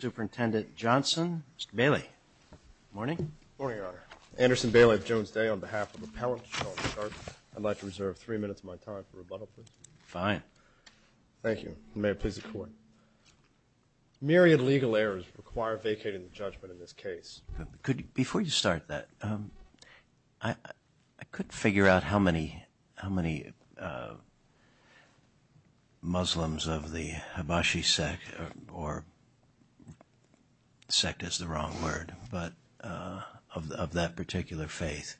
Superintendent Johnson. Mr. Bailey. Morning. Morning, Your Honor. Anderson Bailey of Jones Day on behalf of Appellant Shultz. I'd like to reserve three minutes of my time for rebuttal, please. Fine. Thank you. May it please the Court. Myriad legal errors require vacating the judgment in this case. Before you start that, I couldn't figure out how many Muslims of the sect is the wrong word, but of that particular faith,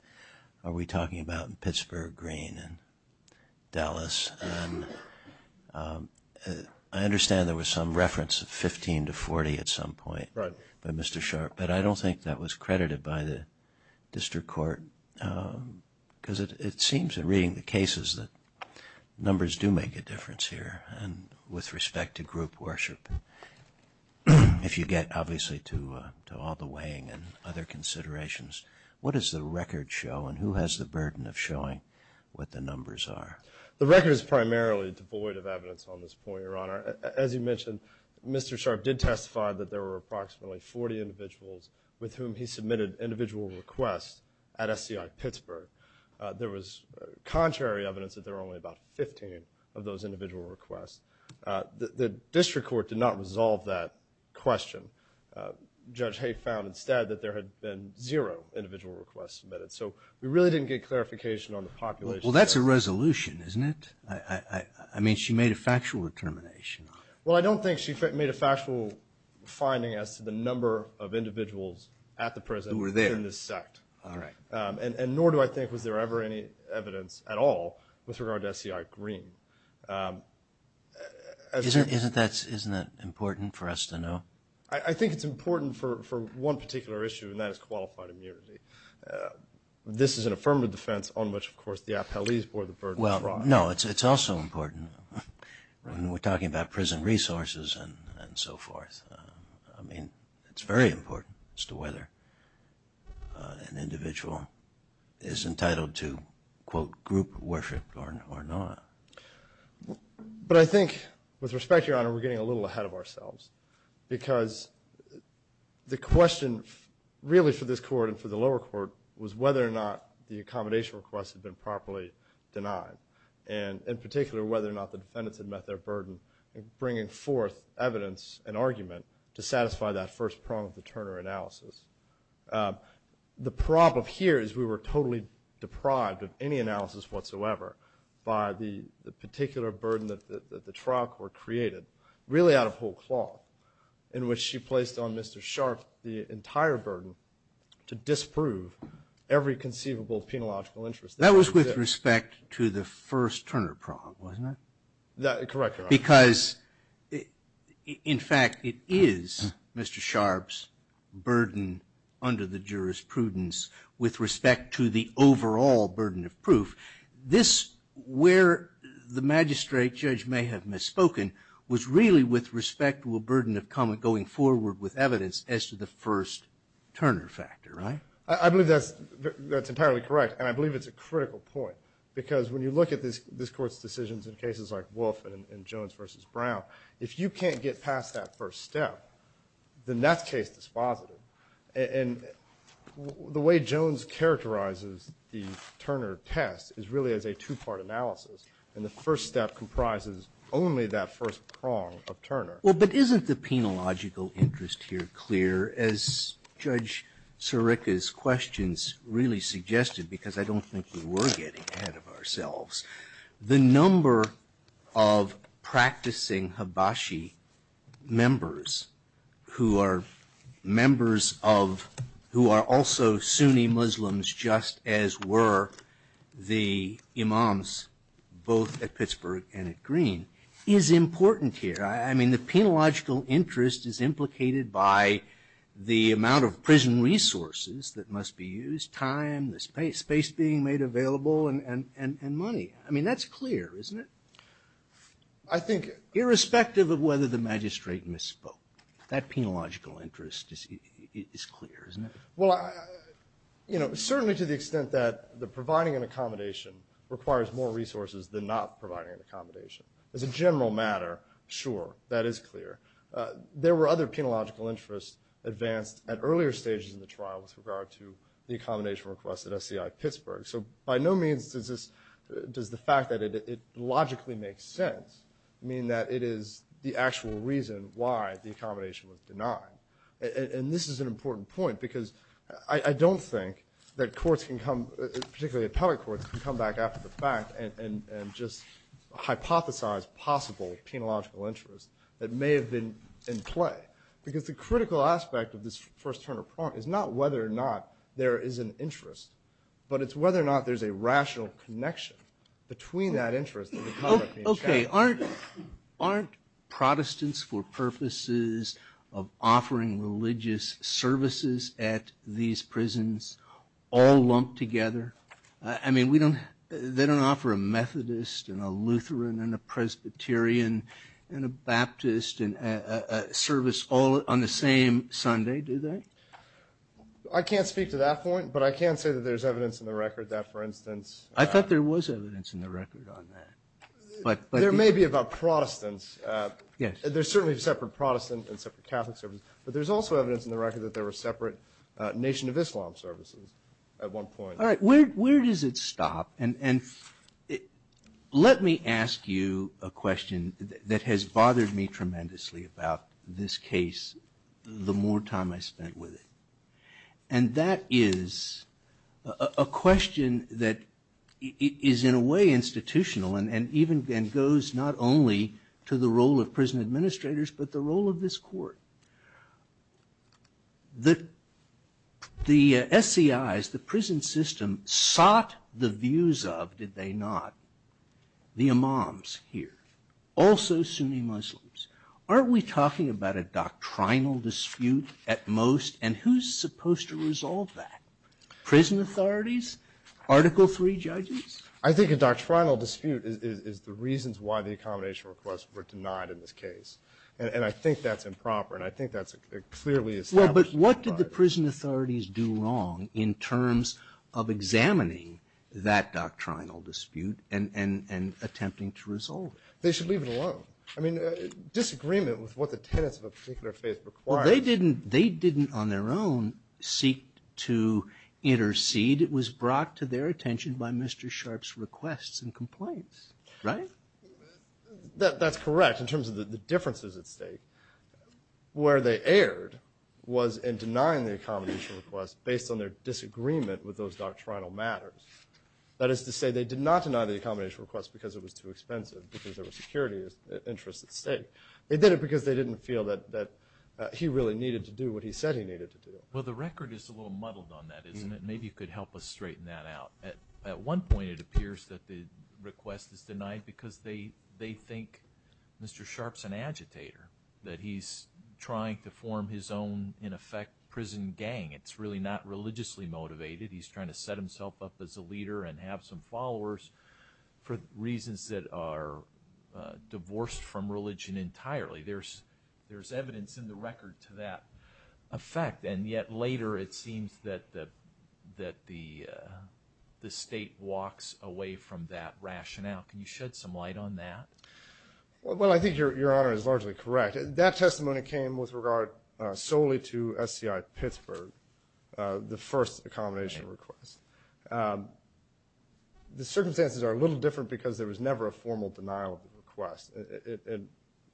are we talking about Pittsburgh Green and Dallas? I understand there was some reference of 15 to 40 at some point by Mr. Sharp, but I don't think that was credited by the District Court because it seems in reading the cases that the numbers do make a difference here and with respect to group worship. If you get, obviously, to all the weighing and other considerations, what does the record show, and who has the burden of showing what the numbers are? The record is primarily devoid of evidence on this point, Your Honor. As you mentioned, Mr. Sharp did testify that there were approximately 40 individuals with whom he submitted individual requests at SCI Pittsburgh. There was contrary evidence that there were only about 15 of those individual requests. The District Court did not resolve that question. Judge Haye found instead that there had been zero individual requests submitted, so we really didn't get clarification on the population. Well, that's a resolution, isn't it? I mean, she made a factual determination. Well, I don't think she made a factual finding as to the number of individuals at the prison who were there in this sect, and nor do I think was there ever any evidence at all with regard to SCI Green. Isn't that important for us to know? I think it's important for one particular issue, and that is qualified immunity. This is an affirmative defense on which, of course, the appellees bore the burden of fraud. Well, no, it's also important when we're talking about prison resources and so forth. I mean, it's very important as to whether an individual is entitled to, quote, group worship or not. But I think, with respect, Your Honor, we're getting a little ahead of ourselves, because the question really for this Court and for the lower court was whether or not the accommodation requests had been properly denied, and in particular, whether or not the defendants had met their burden in bringing forth evidence and argument to satisfy that first prong of the Turner analysis. The problem here is we were totally deprived of any analysis whatsoever by the particular burden that the troch were created, really out of whole cloth, in which she placed on Mr. Sharp the entire burden to disprove every conceivable penological interest. That was with respect to the first Turner prong, wasn't it? Correct, Your Honor. Because, in fact, it is Mr. Sharp's burden under the jurisprudence with respect to the overall burden of proof. This, where the magistrate judge may have misspoken, was really with respect to a burden of comment going forward with evidence as to the first Turner factor, right? I believe that's entirely correct, and I believe it's a critical point, because when you look at this Court's decisions in cases like Wolf and Jones v. Brown, if you can't get past that first step, then that case is positive. And the way Jones characterizes the Turner test is really as a two-part analysis, and the first step comprises only that first prong of Turner. Well, but isn't the penological interest here clear, as Judge Sirica's questions really suggested, because I don't think we were getting ahead of ourselves? The number of practicing Habashi members, who are members of, who are also Sunni Muslims, just as were the imams, both at Pittsburgh and at Green, is important here. I mean, the penological interest is implicated by the amount of prison resources that must be used, time, the space being made available, and money. I mean, that's clear, isn't it? I think irrespective of whether the magistrate misspoke, that penological interest is clear, isn't it? Well, certainly to the extent that providing an accommodation requires more resources than not providing an accommodation. As a general matter, sure, that is clear. There were other penological interests advanced at earlier stages of the trial with regard to the accommodation request at SCI Pittsburgh. So by no means does the fact that it logically makes sense mean that it is the actual reason why the accommodation was denied. And this is an important point, because I don't think that courts can come, particularly appellate courts, can come back after the fact and just hypothesize possible penological interests that may have been in play. Okay, aren't Protestants for purposes of offering religious services at these prisons all lumped together? I mean, they don't offer a Methodist and a Lutheran and a Presbyterian and a Baptist service all on the same Sunday, do they? I can't speak to that point, but I can say that there's evidence in the record that, for instance... I thought there was evidence in the record on that. There may be about Protestants. There's certainly separate Protestant and separate Catholic services, but there's also evidence in the record that there were separate Nation of Islam services at one point. All right, where does it stop? And let me ask you a question that has bothered me tremendously about this case the more time I spent with it. And that is a question that is in a way institutional and even goes not only to the role of prison administrators, but the role of this court. The SCIs, the prison system, sought the views of, did they not, the imams here? Also Sunni Muslims. Aren't we talking about a doctrinal dispute at most? And who's supposed to resolve that? Prison authorities? Article III judges? I think a doctrinal dispute is the reasons why the accommodation requests were denied in this case. And I think that's improper, and I think that's clearly established. Well, but what did the prison authorities do wrong in terms of examining that doctrinal dispute and attempting to resolve it? They should leave it alone. I mean, disagreement with what the tenets of a particular faith require. Well, they didn't on their own seek to intercede. It was brought to their attention by Mr. Sharpe's requests and complaints, right? That's correct in terms of the differences at stake. Where they erred was in denying the accommodation request based on their disagreement with those doctrinal matters. That is to say, they did not deny the accommodation request because it was too expensive, because there were security interests at stake. They did it because they didn't feel that he really needed to do what he said he needed to do. Well, the record is a little muddled on that, isn't it? Maybe you could help us straighten that out. At one point, it appears that the request is denied because they think Mr. Sharpe's an agitator, that he's trying to form his own, in effect, prison gang. It's really not religiously motivated. He's trying to set himself up as a leader and have some followers for reasons that are divorced from religion entirely. There's evidence in the record to that effect, and yet later it seems that the state walks away from that rationale. Can you shed some light on that? Well, I think Your Honor is largely correct. That testimony came with regard solely to SCI Pittsburgh, the first accommodation request. The circumstances are a little different because there was never a formal denial of the request.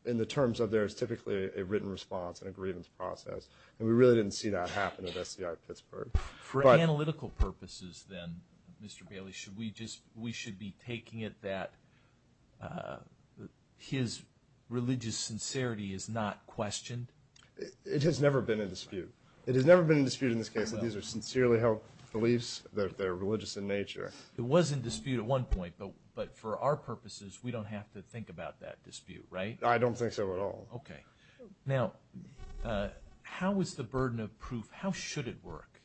In the terms of there's typically a written response and a grievance process, and we really didn't see that happen at SCI Pittsburgh. For analytical purposes, then, Mr. Bailey, we should be taking it that his religious sincerity is not questioned? It has never been in dispute. It has never been in dispute in this case that these are sincerely held beliefs, that they're religious in nature. It was in dispute at one point, but for our purposes, we don't have to think about that dispute, right? I don't think so at all. Okay. Now, how is the burden of proof, how should it work?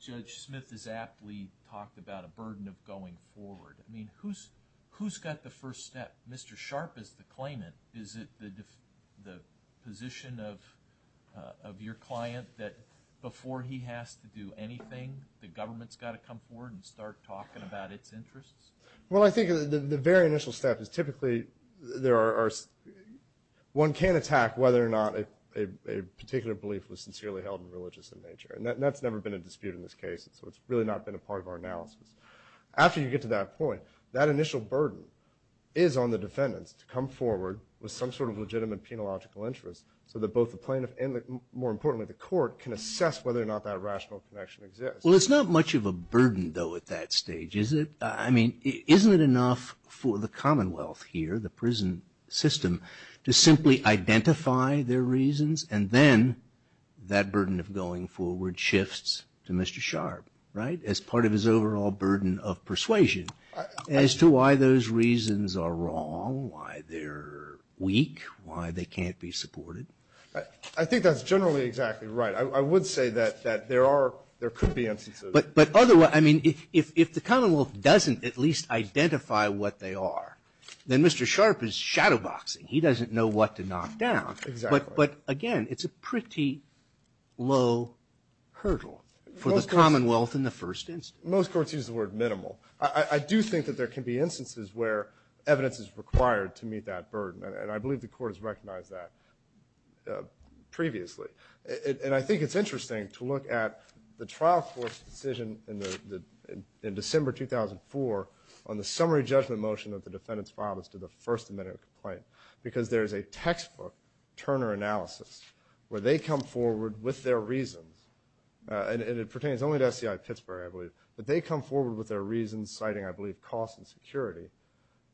Judge Smith has aptly talked about a burden of going forward. I mean, who's got the first step? Mr. Sharpe is the claimant. Is it the position of your client that before he has to do anything, the government's got to come forward and start talking about its interests? Well, I think the very initial step is typically one can't attack whether or not a particular belief was sincerely held and religious in nature. And that's never been a dispute in this case, so it's really not been a part of our analysis. And it's up to the defendants to come forward with some sort of legitimate penological interest, so that both the plaintiff and, more importantly, the court can assess whether or not that rational connection exists. Well, it's not much of a burden, though, at that stage, is it? I mean, isn't it enough for the Commonwealth here, the prison system, to simply identify their reasons, and then that burden of going forward shifts to Mr. Sharpe, right, as part of his overall burden of persuasion, as to why those reasons are wrong, why they're weak, why they can't be supported? I think that's generally exactly right. I would say that there are, there could be instances. But otherwise, I mean, if the Commonwealth doesn't at least identify what they are, then Mr. Sharpe is shadowboxing. He doesn't know what to knock down. But again, it's a pretty low hurdle for the Commonwealth in the first instance. Most courts use the word minimal. I do think that there can be instances where evidence is required to meet that burden. And I believe the court has recognized that previously. And I think it's interesting to look at the trial court's decision in December 2004 on the summary judgment motion that the defendants filed as to the First Amendment complaint, because there's a textbook Turner analysis where they come forward with their reasons. And it pertains only to SCI Pittsburgh, I believe. But they come forward with their reasons citing, I believe, cost and security.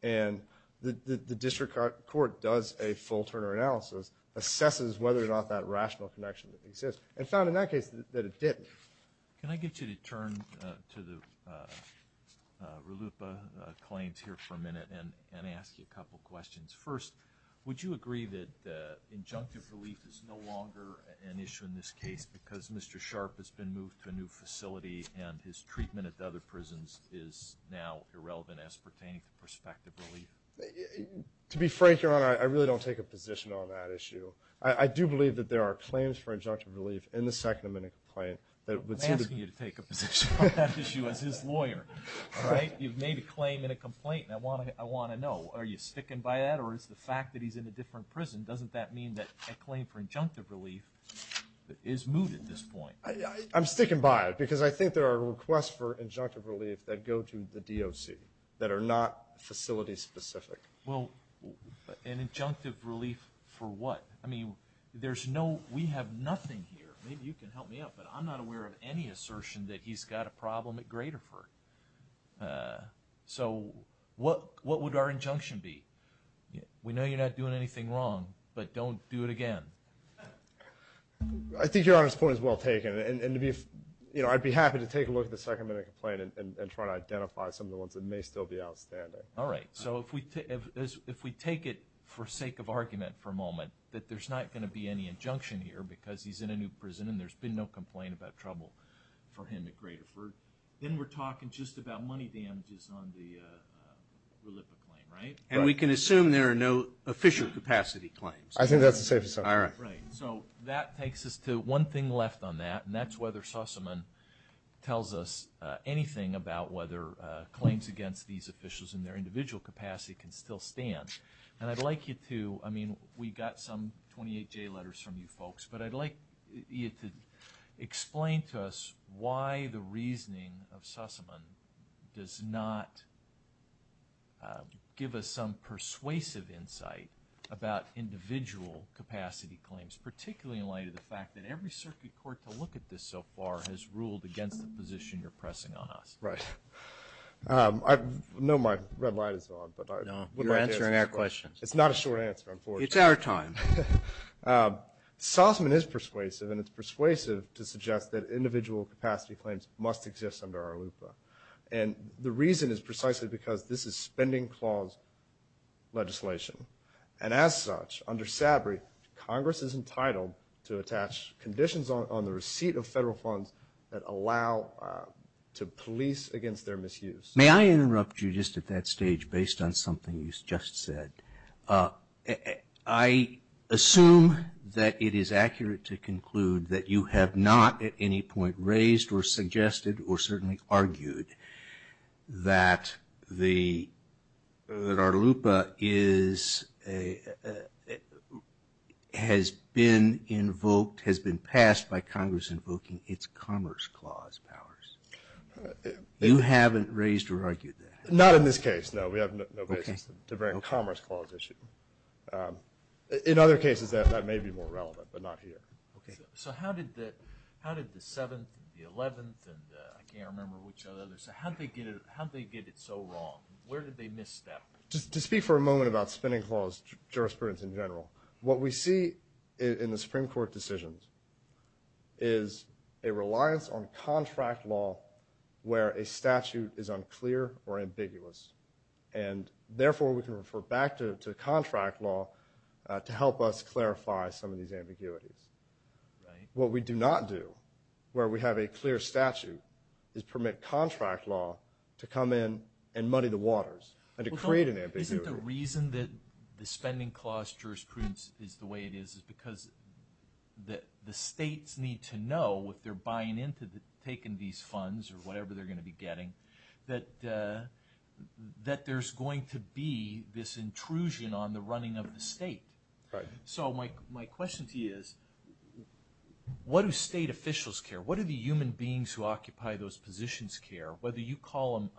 And the district court does a full Turner analysis, assesses whether or not that rational connection exists, and found in that case that it didn't. Can I get you to turn to the RLUIPA claims here for a minute and ask you a couple questions? First, would you agree that injunctive relief is no longer an issue in this case because Mr. Sharpe has been moved to a new facility and his treatment at the other prisons is now irrelevant as pertaining to prospective relief? To be frank, Your Honor, I really don't take a position on that issue. I do believe that there are claims for injunctive relief in the Second Amendment complaint. I'm asking you to take a position on that issue as his lawyer. You've made a claim in a complaint, and I want to know, are you sticking by that, or is the fact that he's in a different prison, doesn't that mean that a claim for injunctive relief is moot at this point? I'm sticking by it because I think there are requests for injunctive relief that go to the DOC that are not facility-specific. Well, an injunctive relief for what? I mean, we have nothing here. Maybe you can help me out, but I'm not aware of any assertion that he's got a problem at Graterford. So what would our injunction be? We know you're not doing anything wrong, but don't do it again. I think Your Honor's point is well taken, and I'd be happy to take a look at the Second Amendment complaint and try to identify some of the ones that may still be outstanding. All right. So if we take it for sake of argument for a moment, that there's not going to be any injunction here because he's in a new prison and there's been no complaint about trouble for him at Graterford, then we're talking just about money damages on the RLIPA claim, right? And we can assume there are no official capacity claims. I think that's the safest assumption. I mean, we got some 28J letters from you folks, but I'd like you to explain to us why the reasoning of Sussman does not give us some persuasive insight about individual capacity claims, particularly in light of the fact that every circuit court to look at this so far has ruled against the position you're pressing on us. Right. I know my red light is on. Sussman is persuasive, and it's persuasive to suggest that individual capacity claims must exist under RLIPA. And the reason is precisely because this is spending clause legislation. And as such, under SABRI, Congress is entitled to attach conditions on the receipt of federal funds that allow to police against their misuse. May I interrupt you just at that stage based on something you just said? I assume that it is accurate to conclude that you have not at any point raised or suggested or certainly argued that RLIPA has been invoked, has been passed by Congress invoking its Commerce Clause powers. You haven't raised or argued that. In other cases, that may be more relevant, but not here. To speak for a moment about spending clause jurisprudence in general, what we see in the Supreme Court decisions is a reliance on contract law where a statute is unclear or ambiguous. And therefore, we can refer back to contract law to help us clarify some of these ambiguities. What we do not do where we have a clear statute is permit contract law to come in and muddy the waters and to create an ambiguity. Isn't the reason that the spending clause jurisprudence is the way it is is because the states need to know if they're buying into taking these funds or whatever they're going to be getting, that there's going to be this intrusion on the running of the state. So my question to you is, what do state officials care? What do the human beings who occupy those positions care? Whether you call them,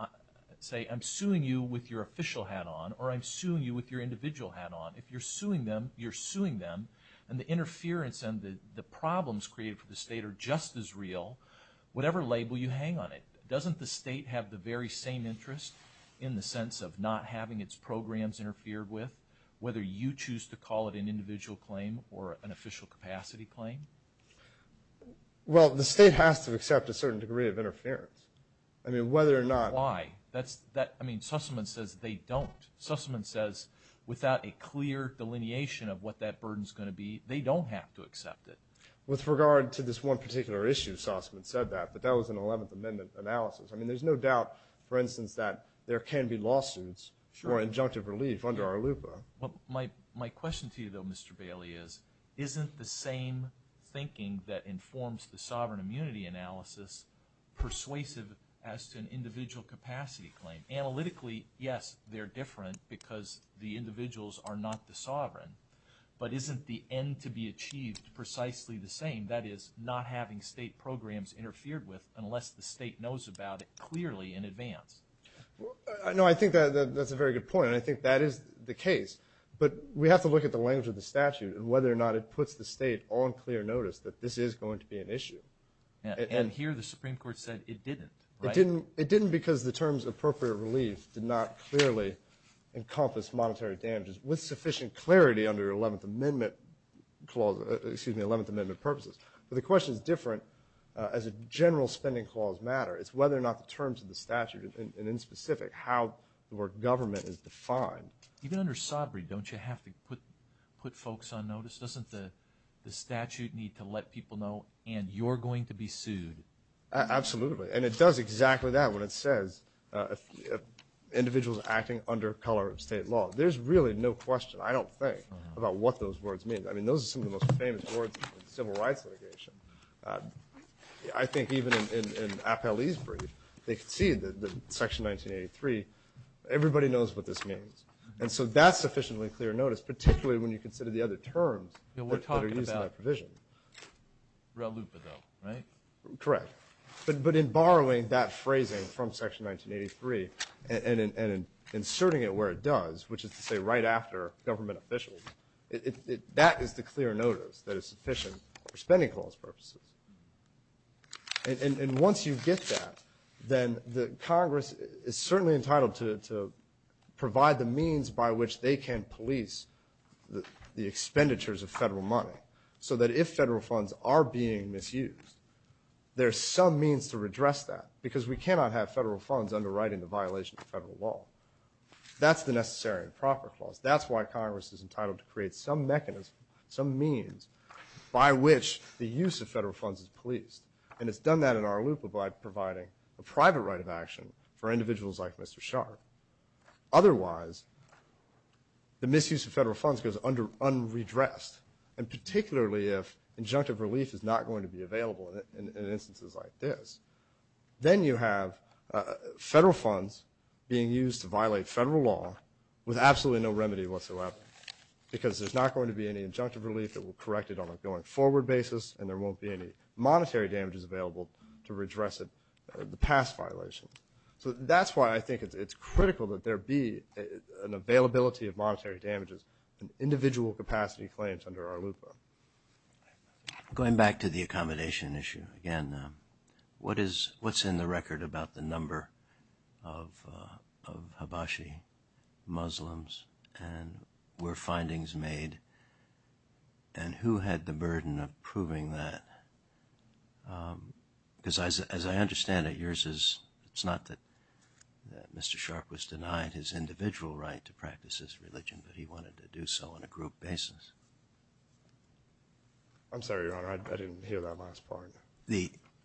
say, I'm suing you with your official hat on or I'm suing you with your individual hat on. If you're suing them, you're suing them, and the interference and the problems created for the state are just as real, whatever label you hang on it. Doesn't the state have the very same interest in the sense of not having its programs interfered with, whether you choose to call it an individual claim or an official capacity claim? Well, the state has to accept a certain degree of interference. Why? I mean, Sussman says they don't. Sussman says without a clear delineation of what that burden's going to be, they don't have to accept it. With regard to this one particular issue, Sussman said that, but that was an 11th Amendment analysis. I mean, there's no doubt, for instance, that there can be lawsuits or injunctive relief under our LUPA. Well, my question to you, though, Mr. Bailey, is isn't the same thinking that informs the sovereign immunity analysis persuasive as to an individual capacity claim? Analytically, yes, they're different because the individuals are not the sovereign, but isn't the end to be achieved precisely the same, that is, not having state programs interfered with unless the state knows about it clearly in advance? No, I think that's a very good point, and I think that is the case. But we have to look at the language of the statute and whether or not it puts the state on clear notice that this is going to be an issue. And here the Supreme Court said it didn't, right? It didn't because the terms of appropriate relief did not clearly encompass monetary damages with sufficient clarity under 11th Amendment clauses, excuse me, 11th Amendment purposes. But the question is different as a general spending clause matter. It's whether or not the terms of the statute, and in specific, how the word government is defined. Even under sobriety, don't you have to put folks on notice? Doesn't the statute need to let people know, and you're going to be sued? Absolutely, and it does exactly that when it says individuals acting under color of state law. There's really no question, I don't think, about what those words mean. I mean, those are some of the most famous words in civil rights litigation. I think even in Appellee's brief, they could see that Section 1983, everybody knows what this means. And so that's sufficiently clear notice, particularly when you consider the other terms that are used in that provision. But in borrowing that phrasing from Section 1983 and inserting it where it does, which is to say right after government officials, that is the clear notice that is sufficient for spending clause purposes. And once you get that, then Congress is certainly entitled to provide the means by which they can police the expenditures of federal money, so that if federal funds are being misused, there's some means to redress that, because we cannot have federal funds underwriting the violation of federal law. That's the necessary and proper clause. That's why Congress is entitled to create some mechanism, some means by which the use of federal funds is policed. And it's done that in our loop by providing a private right of action for individuals like Mr. Sharp. Otherwise, the misuse of federal funds goes unredressed, and particularly if injunctive relief is not going to be available in instances like this. Then you have federal funds being used to violate federal law with absolutely no remedy whatsoever, because there's not going to be any injunctive relief that will correct it on a going-forward basis, and there won't be any monetary damages available to redress the past violation. So that's why I think it's critical that there be an availability of monetary damages, and individual capacity claims under our loop. Going back to the accommodation issue, again, what's in the record about the number of Habashi Muslims, and were findings made, and who had the burden of proving that? Because as I understand it, yours is, it's not that Mr. Sharp was denied his individual right to practice his religion, but he wanted to do so on a group basis. I'm sorry, Your Honor, I didn't hear that last part.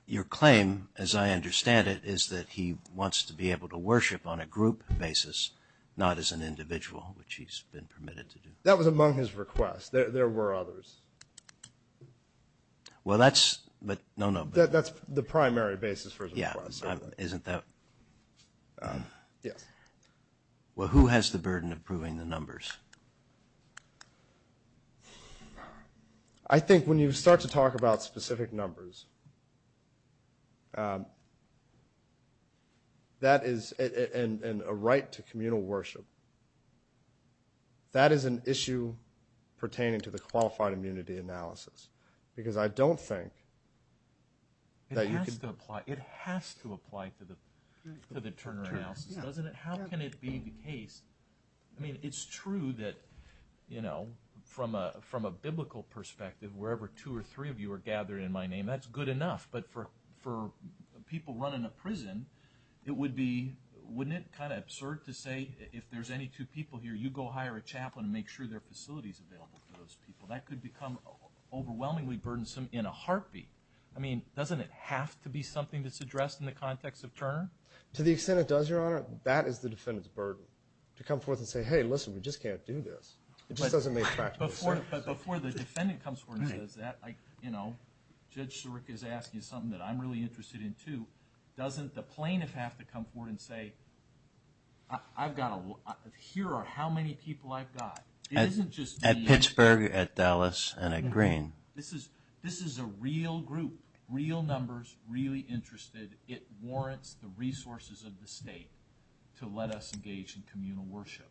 Your claim, as I understand it, is that he wants to be able to worship on a group basis, not as an individual, which he's been permitted to do. That was among his requests. There were others. Well, that's, no, no. That's the primary basis for his request. Yeah, isn't that? Yes. Well, who has the burden of proving the numbers? I think when you start to talk about specific numbers, that is, and a right to communal worship, that is an issue pertaining to the qualified immunity analysis, because I don't think that you can... It has to apply, it has to apply to the Turner analysis, doesn't it? How can it be the case? I mean, it's true that, you know, from a biblical perspective, wherever two or three of you are gathered in my name, that's good enough, but for people running a prison, it would be... Wouldn't it be kind of absurd to say, if there's any two people here, you go hire a chaplain and make sure there are facilities available for those people? That could become overwhelmingly burdensome in a heartbeat. I mean, doesn't it have to be something that's addressed in the context of Turner? To the extent it does, Your Honor, that is the defendant's burden. To come forth and say, hey, listen, we just can't do this. It just doesn't make practical sense. But before the defendant comes forward and says that, you know, Judge Siric is asking something that I'm really interested in, too. Doesn't the plaintiff have to come forward and say, I've got a lot, here are how many people I've got? At Pittsburgh, at Dallas, and at Green. This is a real group, real numbers, really interested. It warrants the resources of the state to let us engage in communal worship.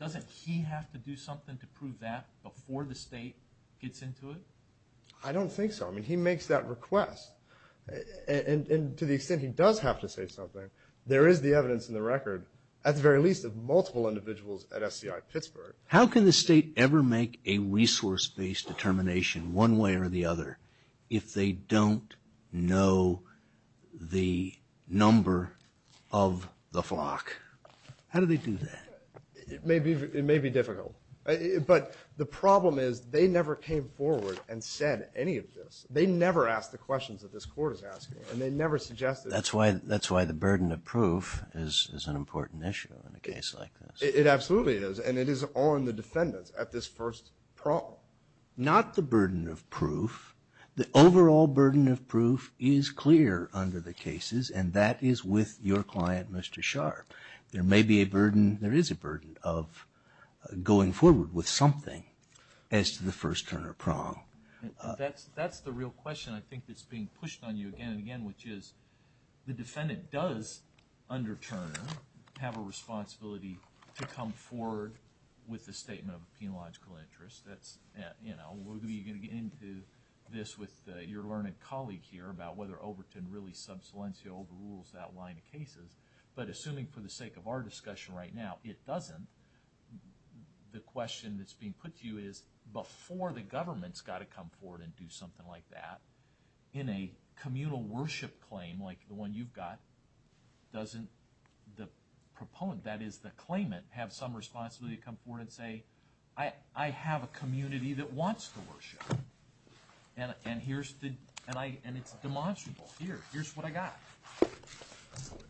Doesn't he have to do something to prove that before the state gets into it? I don't think so. I mean, he makes that request. And to the extent he does have to say something, there is the evidence in the record, at the very least, of multiple individuals at SCI Pittsburgh. How can the state ever make a resource-based determination, one way or the other, if they don't know the number of the flock? How do they do that? It may be difficult. But the problem is they never came forward and said any of this. They never asked the questions that this Court is asking. And they never suggested it. That's why the burden of proof is an important issue in a case like this. It absolutely is. And it is on the defendants at this first problem. Not the burden of proof. The overall burden of proof is clear under the cases, and that is with your client, Mr. Sharp. There may be a burden, there is a burden, of going forward with something as to the first Turner prong. That's the real question I think that's being pushed on you again and again, which is the defendant does, under Turner, have a responsibility to come forward with a statement of a penological interest. We're going to get into this with your learned colleague here about whether Overton really sub silencio overrules that line of cases. But assuming for the sake of our discussion right now, it doesn't, the question that's being put to you is, before the government's got to come forward and do something like that, in a communal worship claim like the one you've got, doesn't the proponent, that is the claimant, have some responsibility to come forward and say, I have a community that wants to worship, and it's demonstrable. Here's what I got.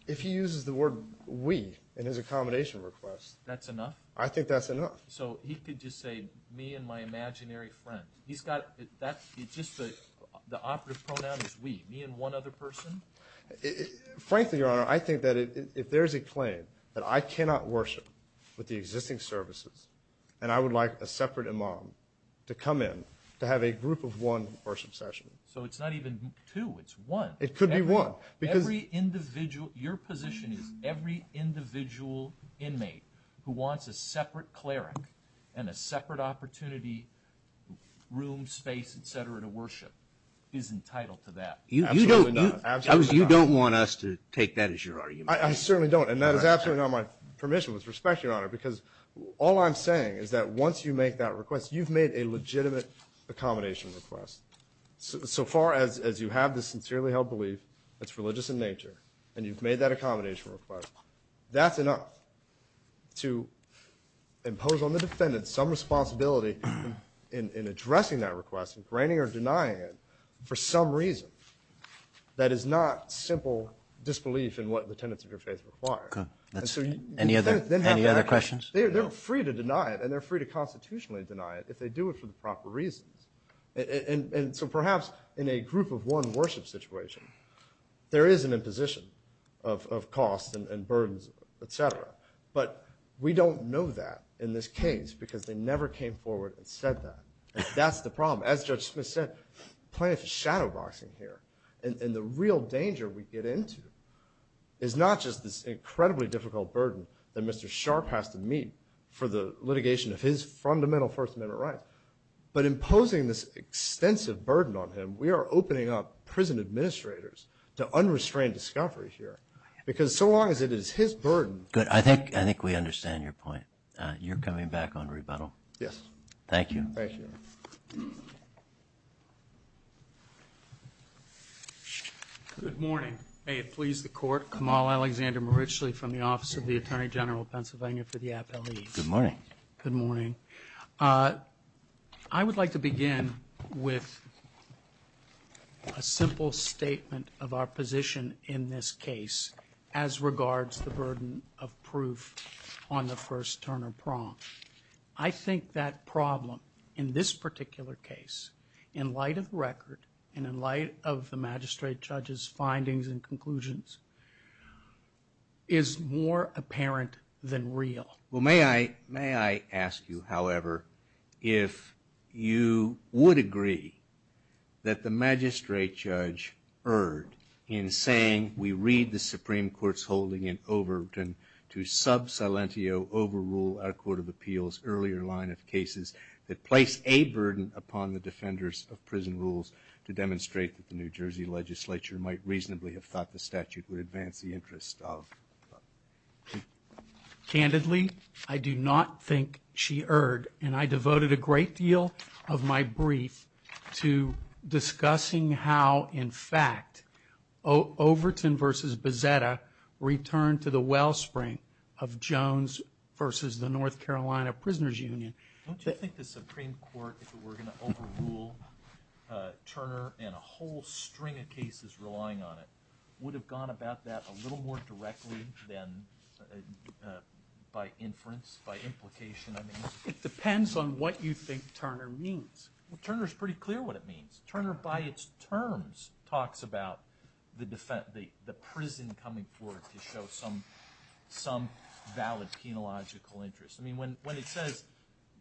If he uses the word we in his accommodation request. That's enough? I think that's enough. So he could just say, me and my imaginary friend. He's got, it's just the operative pronoun is we. Me and one other person? Frankly, Your Honor, I think that if there's a claim that I cannot worship with the existing services, and I would like a separate imam to come in to have a group of one worship session. So it's not even two, it's one. It could be one. Your position is every individual inmate who wants a separate cleric and a separate opportunity, room, space, et cetera, to worship is entitled to that. Absolutely not. You don't want us to take that as your argument. I certainly don't, and that is absolutely not my permission with respect, Your Honor, because all I'm saying is that once you make that request, you've made a legitimate accommodation request. So far as you have this sincerely held belief, it's religious in nature, and you've made that accommodation request, that's enough to impose on the defendant some responsibility in addressing that request, in granting or denying it, for some reason that is not simple disbelief in what the tenets of your faith require. Any other questions? They're free to deny it, and they're free to constitutionally deny it if they do it for the proper reasons. And so perhaps in a group of one worship situation, there is an imposition of cost and burdens, et cetera, but we don't know that in this case because they never came forward and said that. That's the problem. As Judge Smith said, plenty of shadow boxing here, and the real danger we get into is not just this incredibly difficult burden that Mr. Sharp has to meet for the litigation of his fundamental First Amendment rights, but imposing this extensive burden on him, we are opening up prison administrators to unrestrained discovery here because so long as it is his burden... Good. I think we understand your point. You're coming back on rebuttal? Yes. Thank you. Thank you. Good morning. May it please the Court. Kamal Alexander-Maritchely from the Office of the Attorney General of Pennsylvania for the Appellate. Good morning. Good morning. I would like to begin with a simple statement of our position in this case as regards the burden of proof on the First Turner Prompt. I think that problem in this particular case, in light of the record and in light of the magistrate judge's findings and conclusions, is more apparent than real. May I ask you, however, if you would agree that the magistrate judge erred in saying we read the Supreme Court's holding in Overton to sub silentio overrule our Court of Appeals' earlier line of cases that place a burden upon the defenders of prison rules to demonstrate that the New Jersey legislature might reasonably have thought the statute would advance the interest of... Candidly, I do not think she erred, and I devoted a great deal of my brief to discussing how, in fact, Overton v. Bezzetta returned to the wellspring of Jones v. the North Carolina Prisoners Union. Don't you think the Supreme Court, if it were going to overrule Turner and a whole string of cases relying on it, would have gone about that a little more directly than by inference, by implication? It depends on what you think Turner means. Turner's pretty clear what it means. Turner, by its terms, talks about the prison coming forward to show some valid penological interest. I mean, when it says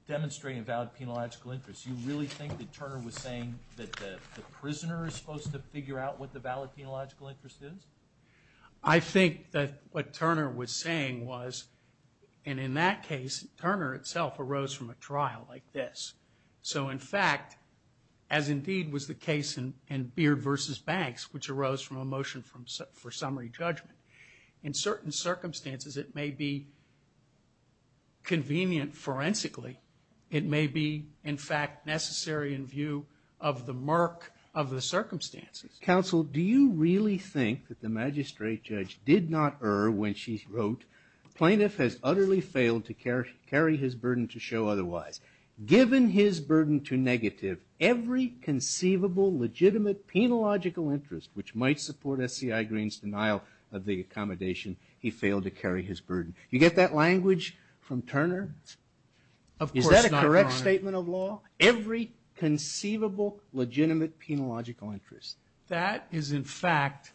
demonstrate a valid penological interest, you really think that Turner was saying that the prisoner is supposed to figure out what the valid penological interest is? I think that what Turner was saying was, and in that case, Turner itself arose from a trial like this. So, in fact, as indeed was the case in Beard v. Banks, which arose from a motion for summary judgment, in certain circumstances it may be convenient forensically. It may be, in fact, necessary in view of the murk of the circumstances. Counsel, do you really think that the magistrate judge did not err when she wrote, Plaintiff has utterly failed to carry his burden to show otherwise. Given his burden to negative, every conceivable legitimate penological interest which might support S.C.I. Green's denial of the accommodation, he failed to carry his burden. You get that language from Turner? Is that a correct statement of law? Every conceivable legitimate penological interest. That is, in fact,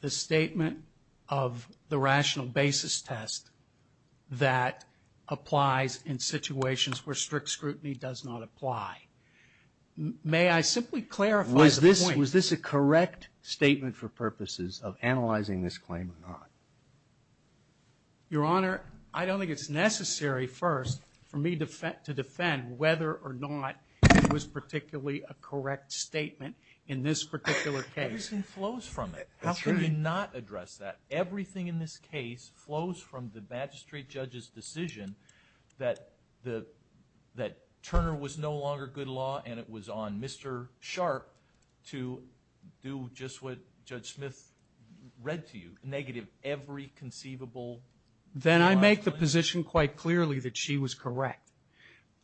the statement of the rational basis test that applies in situations where strict scrutiny does not apply. May I simply clarify the point? Was this a correct statement for purposes of analyzing this claim or not? Your Honor, I don't think it's necessary first for me to defend whether or not it was particularly a correct statement in this particular case. Everything flows from it. How can you not address that? Everything in this case flows from the magistrate judge's decision that Turner was no longer good law and it was on Mr. Sharp to do just what Judge Smith read to you, negative every conceivable... Then I make the position quite clearly that she was correct.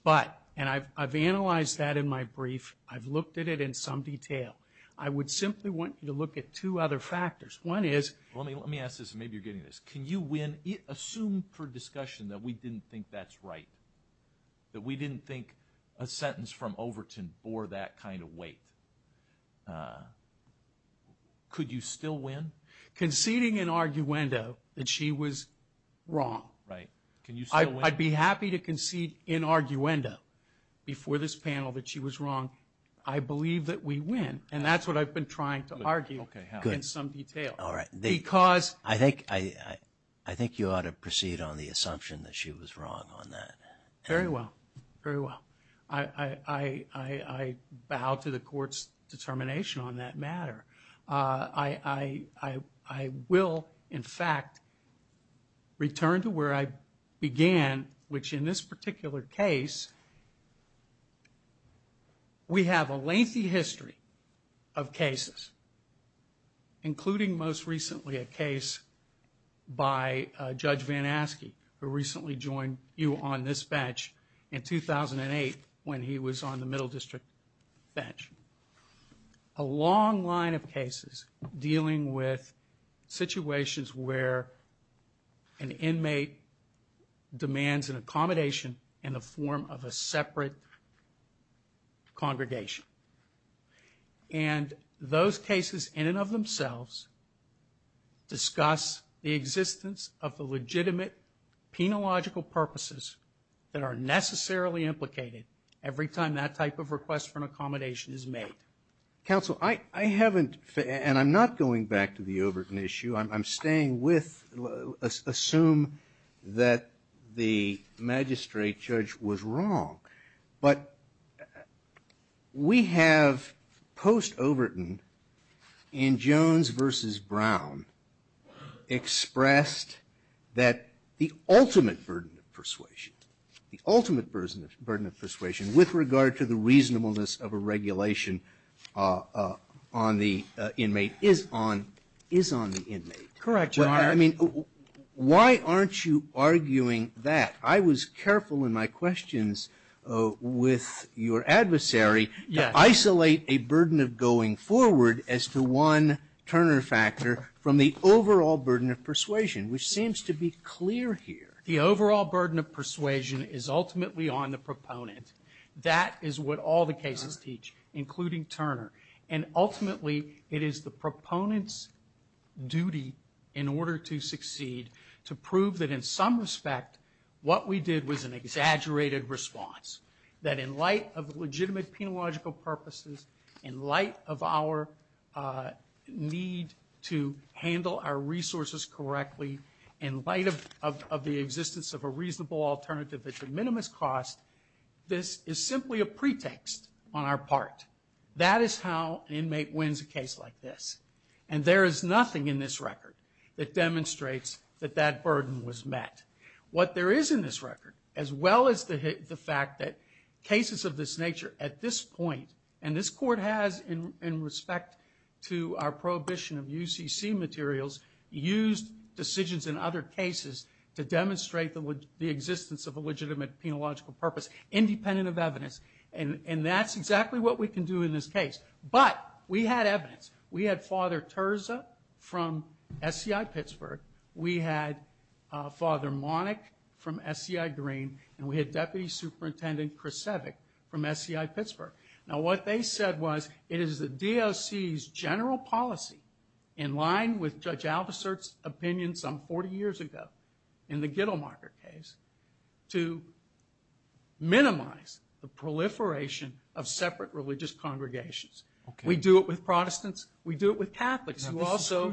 But, and I've analyzed that in my brief, I've looked at it in some detail. I would simply want you to look at two other factors. One is... Let me ask this, and maybe you're getting this. Can you assume for discussion that we didn't think that's right? That we didn't think a sentence from Overton bore that kind of weight? Could you still win? Conceding in arguendo that she was wrong. I'd be happy to concede in arguendo before this panel that she was wrong. I believe that we win. And that's what I've been trying to argue in some detail. Because... I think you ought to proceed on the assumption that she was wrong on that. Very well, very well. I bow to the court's determination on that matter. I will, in fact, return to where I began, which in this particular case, we have a lengthy history of cases, including most recently a case by Judge Van Aske, who recently joined you on this bench in 2008 when he was on the Middle District bench. A long line of cases dealing with situations where an inmate demands an accommodation in the form of a separate congregation. And those cases in and of themselves discuss the existence of the legitimate penological purposes that are necessarily implicated every time that type of request for an accommodation is made. Counsel, I haven't... And I'm not going back to the Overton issue. I'm staying with... Assume that the magistrate judge was wrong. But we have, post-Overton, in Jones v. Brown, expressed that the ultimate burden of persuasion, the ultimate burden of persuasion with regard to the reasonableness of a regulation on the inmate is on the inmate. Correct, Your Honor. I mean, why aren't you arguing that? I was careful in my questions with your adversary to isolate a burden of going forward as to one Turner factor from the overall burden of persuasion, which seems to be clear here. The overall burden of persuasion is ultimately on the proponent. That is what all the cases teach, including Turner. And ultimately, it is the proponent's duty in order to succeed to prove that in some respect, what we did was an exaggerated response. That in light of legitimate penological purposes, in light of our need to handle our resources correctly, in light of the existence of a reasonable alternative at the minimum cost, this is simply a pretext on our part. That is how an inmate wins a case like this. And there is nothing in this record that demonstrates that that burden was met. What there is in this record, as well as the fact that cases of this nature, at this point, and this Court has in respect to our prohibition of UCC materials, used decisions in other cases to demonstrate the existence of a legitimate penological purpose independent of evidence. And that's exactly what we can do in this case. But we had evidence. We had Father Terza from SCI Pittsburgh. We had Father Monick from SCI Green. And we had Deputy Superintendent Krasevic from SCI Pittsburgh. Now what they said was, it is the DOC's general policy, in line with Judge Aldersert's opinion some 40 years ago in the Gittelmarker case, to minimize the proliferation of separate religious congregations. We do it with Protestants. We do it with Catholics who also...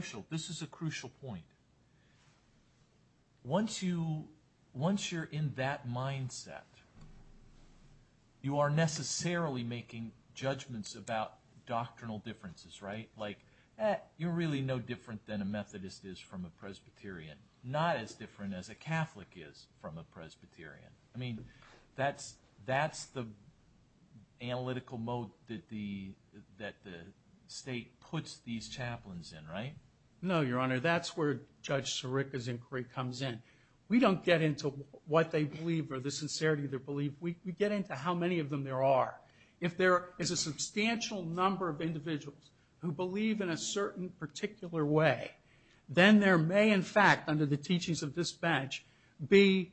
Once you're in that mindset, you are necessarily making judgments about doctrinal differences, right? Like, eh, you're really no different than a Methodist is from a Presbyterian. Not as different as a Catholic is from a Presbyterian. I mean, that's the analytical mode that the state puts these chaplains in, right? No, Your Honor, that's where Judge Sirica's inquiry comes in. We don't get into what they believe or the sincerity of their belief. We get into how many of them there are. If there is a substantial number of individuals who believe in a certain particular way, then there may, in fact, under the teachings of this bench, be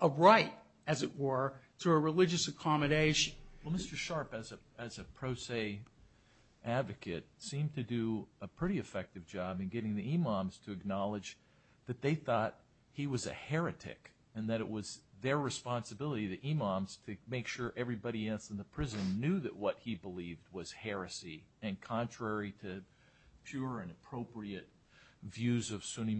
a right, as it were, to a religious accommodation. Well, Mr. Sharpe, as a pro se advocate, seemed to do a pretty effective job in getting the imams to acknowledge that they thought he was a heretic and that it was their responsibility, the imams, to make sure everybody else in the prison knew that what he believed was heresy and contrary to pure and appropriate views of Sunni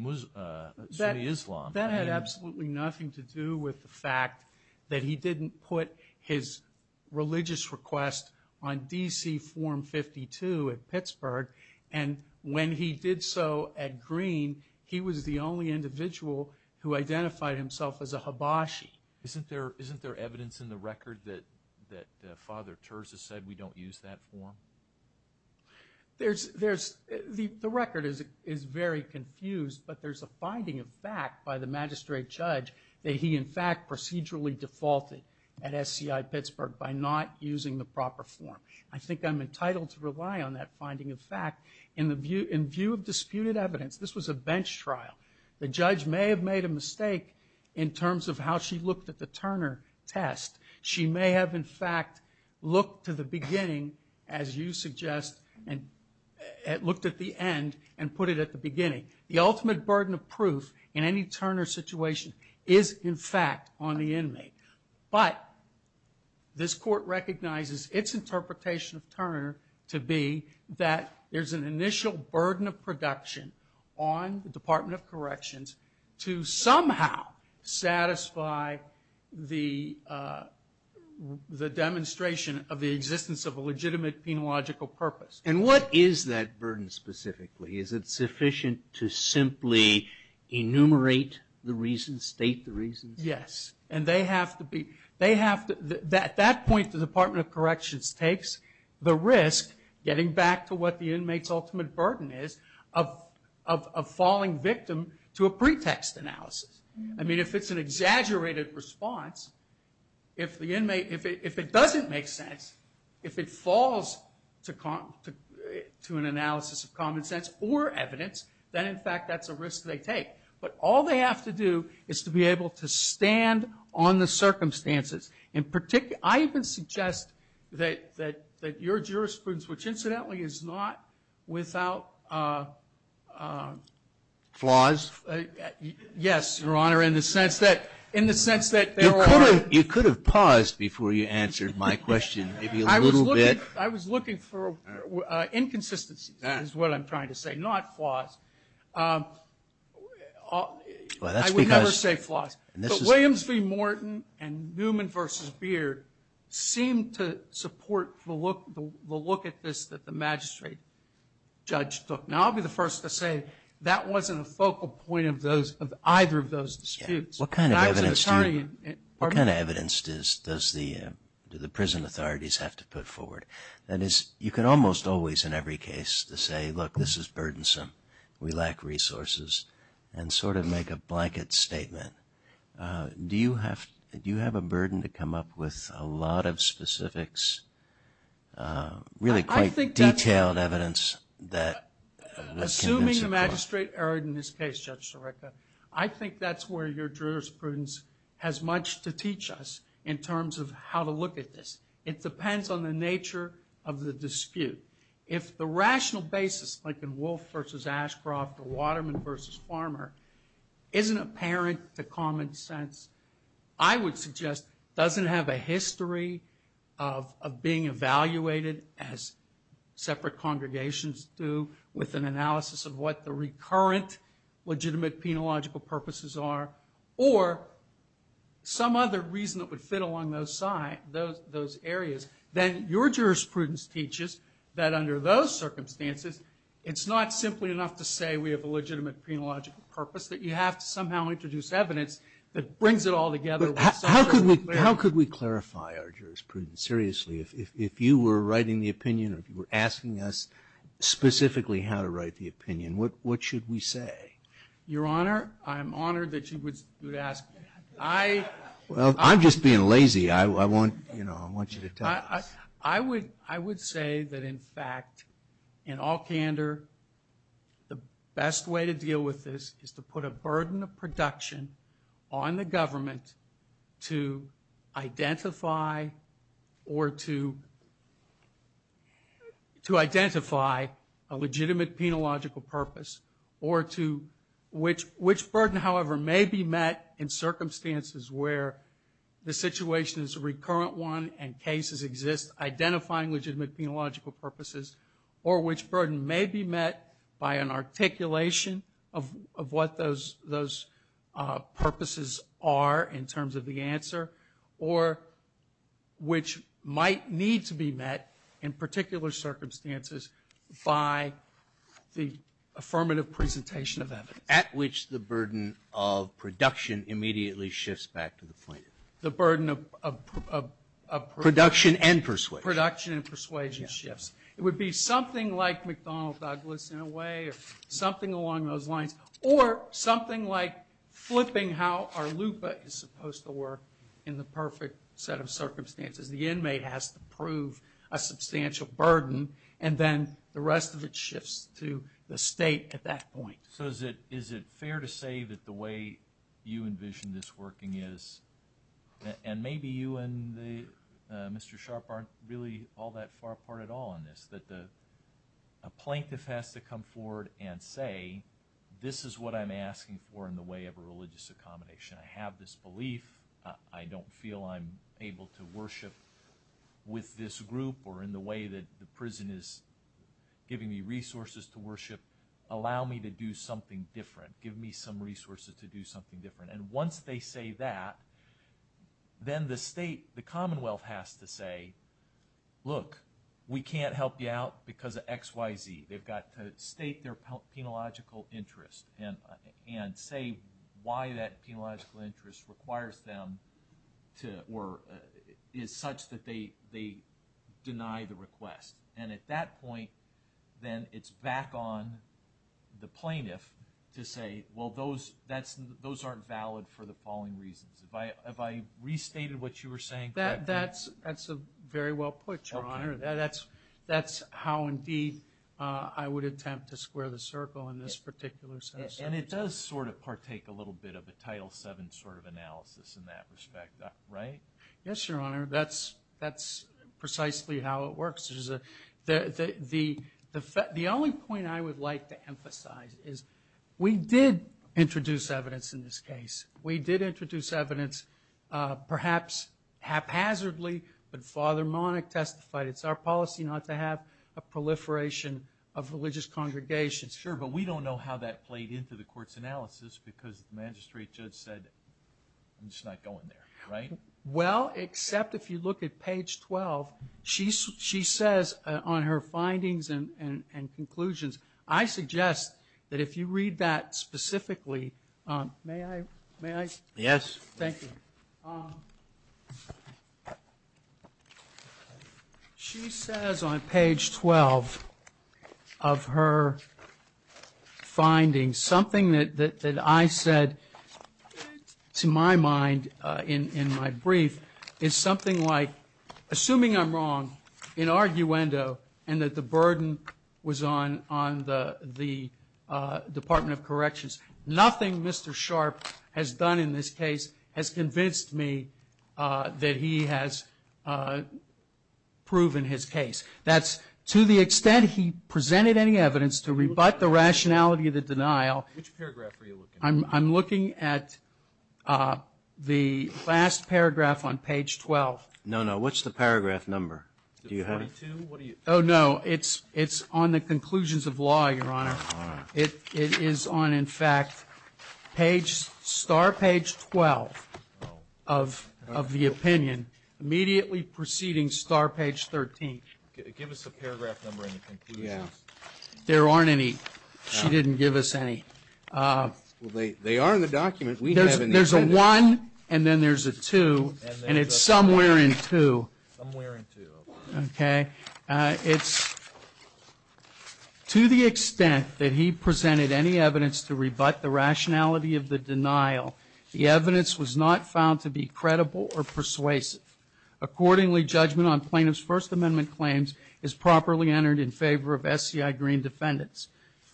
Islam. That had absolutely nothing to do with the fact that he didn't put his religious request on DC Form 52 at Pittsburgh, and when he did so at Green, he was the only individual who identified himself as a Habashi. Isn't there evidence in the record that Father Terz has said we don't use that form? There's... The record is very confused, but there's a finding of fact by the magistrate judge that he, in fact, procedurally defaulted at SCI Pittsburgh by not using the proper form. I think I'm entitled to rely on that finding of fact. In view of disputed evidence, this was a bench trial. The judge may have made a mistake in terms of how she looked at the Turner test. She may have, in fact, looked to the beginning, as you suggest, and looked at the end and put it at the beginning. is, in fact, on the inmate. But this court recognizes its interpretation of Turner to be that there's an initial burden of production on the Department of Corrections to somehow satisfy the demonstration of the existence of a legitimate penological purpose. And what is that burden specifically? Is it sufficient to simply enumerate the reasons, state the reasons? Yes. And they have to be... At that point, the Department of Corrections takes the risk, getting back to what the inmate's ultimate burden is, of falling victim to a pretext analysis. I mean, if it's an exaggerated response, if it doesn't make sense, if it falls to an analysis of common sense or evidence, then, in fact, that's a risk they take. But all they have to do is to be able to stand on the circumstances. I even suggest that your jurisprudence, which, incidentally, is not without... Flaws? Yes, Your Honor, in the sense that there are... You could have paused before you answered my question, maybe a little bit. I was looking for inconsistencies, is what I'm trying to say, not flaws. Well, that's because... I would never say flaws. But Williams v. Morton and Newman v. Beard seemed to support the look at this that the magistrate judge took. Now, I'll be the first to say that wasn't a focal point of either of those disputes. What kind of evidence do you... And I was an attorney... What kind of evidence do the prison authorities have to put forward? That is, you can almost always, in every case, to say, look, this is burdensome, we lack resources, and sort of make a blanket statement. Do you have a burden to come up with a lot of specifics, really quite detailed evidence that... Assuming the magistrate erred in this case, Judge Sirica, I think that's where your jurisprudence has much to teach us in terms of how to look at this. It depends on the nature of the dispute. If the rational basis, like in Wolfe v. Ashcroft or Waterman v. Farmer, isn't apparent to common sense, I would suggest doesn't have a history of being evaluated, as separate congregations do, with an analysis of what the recurrent legitimate penological purposes are, or some other reason that would fit along those areas, then your jurisprudence teaches that under those circumstances, it's not simply enough to say we have a legitimate penological purpose, that you have to somehow introduce evidence that brings it all together. But how could we clarify our jurisprudence? Seriously, if you were writing the opinion, or if you were asking us specifically how to write the opinion, what should we say? Your Honor, I'm honored that you would ask me that. Well, I'm just being lazy. I want you to tell us. I would say that, in fact, in all candor, the best way to deal with this is to put a burden of production on the government to identify a legitimate penological purpose, which burden, however, may be met in circumstances where the situation is a recurrent one and cases exist identifying legitimate penological purposes, or which burden may be met by an articulation of what those purposes are in terms of the answer, or which might need to be met in particular circumstances by the affirmative presentation of evidence. At which the burden of production immediately shifts back to the plaintiff. The burden of... Production and persuasion. Production and persuasion shifts. It would be something like McDonnell Douglas, in a way, or something along those lines, or something like flipping how our LUPA is supposed to work in the perfect set of circumstances. The inmate has to prove a substantial burden, and then the rest of it shifts to the state at that point. So is it fair to say that the way you envision this working is... And maybe you and Mr. Sharp aren't really all that far apart at all on this, that a plaintiff has to come forward and say, this is what I'm asking for in the way of a religious accommodation. I have this belief. I don't feel I'm able to worship with this group or in the way that the prison is giving me resources to worship. Allow me to do something different. Give me some resources to do something different. And once they say that, then the state, the Commonwealth, has to say, look, we can't help you out because of X, Y, Z. They've got to state their penological interest and say why that penological interest requires them to... Or is such that they deny the request. And at that point, then it's back on the plaintiff to say, well, those aren't valid for the following reasons. Have I restated what you were saying correctly? That's very well put, Your Honor. That's how indeed I would attempt to square the circle in this particular sense. And it does sort of partake a little bit of a Title VII sort of analysis in that respect, right? Yes, Your Honor. That's precisely how it works. The only point I would like to emphasize is we did introduce evidence in this case. We did introduce evidence, perhaps haphazardly, but Father Monach testified it's our policy not to have a proliferation of religious congregations. Sure, but we don't know how that played into the court's analysis because the magistrate judge said, I'm just not going there, right? Well, except if you look at page 12, she says on her findings and conclusions, I suggest that if you read that specifically, may I? Yes. Thank you. She says on page 12 of her findings, something that I said to my mind in my brief is something like, assuming I'm wrong in arguendo and that the burden was on the Department of Corrections, nothing Mr. Sharp has done in this case has convinced me that he has proven his case. That's to the extent he presented any evidence to rebut the rationality of the denial. Which paragraph are you looking at? I'm looking at the last paragraph on page 12. No, no. What's the paragraph number? Oh, no. It's on the conclusions of law, Your Honor. It is on, in fact, star page 12 of the opinion, immediately preceding star page 13. Give us the paragraph number and the conclusions. There aren't any. She didn't give us any. They are in the document. There's a one and then there's a two, and it's somewhere in two. Somewhere in two. Okay. It's, to the extent that he presented any evidence to rebut the rationality of the denial, the evidence was not found to be credible or persuasive. Accordingly, judgment on plaintiff's First Amendment claims is properly entered in favor of SCI Green defendants.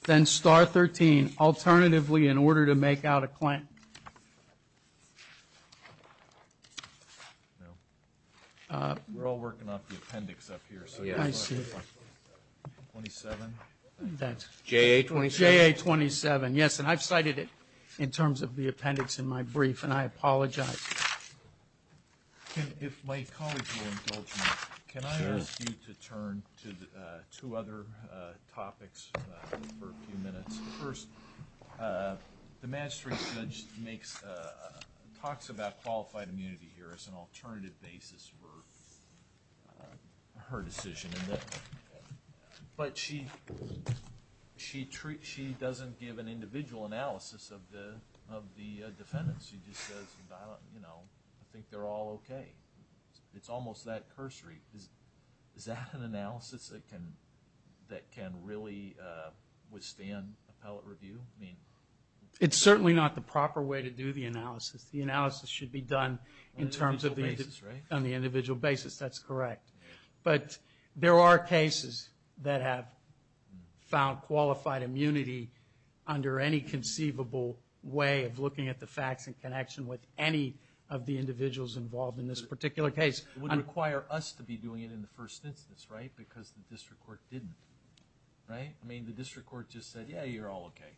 Then star 13, alternatively, in order to make out a claim. We're all working off the appendix up here. I see. 27. JA 27. JA 27. Yes, and I've cited it in terms of the appendix in my brief, and I apologize. If my colleagues will indulge me, Can I ask you to turn to two other topics for a few minutes? First, the magistrate judge talks about qualified immunity here as an alternative basis for her decision. But she doesn't give an individual analysis of the defendants. She just says, you know, I think they're all okay. It's almost that cursory. Is that an analysis that can really withstand appellate review? It's certainly not the proper way to do the analysis. The analysis should be done on the individual basis. That's correct. But there are cases that have found qualified immunity under any conceivable way of looking at the facts in connection with any of the individuals involved in this particular case. It wouldn't require us to be doing it in the first instance, right, because the district court didn't, right? I mean, the district court just said, yeah, you're all okay.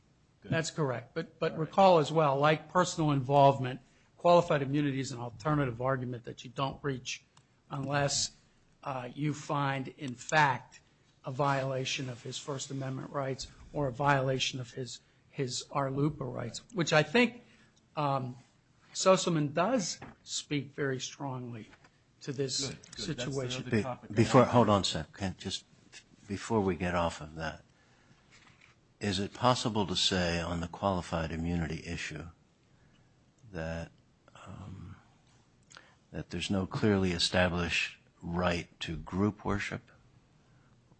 That's correct. But recall as well, like personal involvement, qualified immunity is an alternative argument that you don't reach unless you find, in fact, a violation of his First Amendment rights or a violation of his ARLUPA rights, which I think Sussman does speak very strongly to this situation. Hold on a second. Just before we get off of that, is it possible to say on the qualified immunity issue that there's no clearly established right to group worship,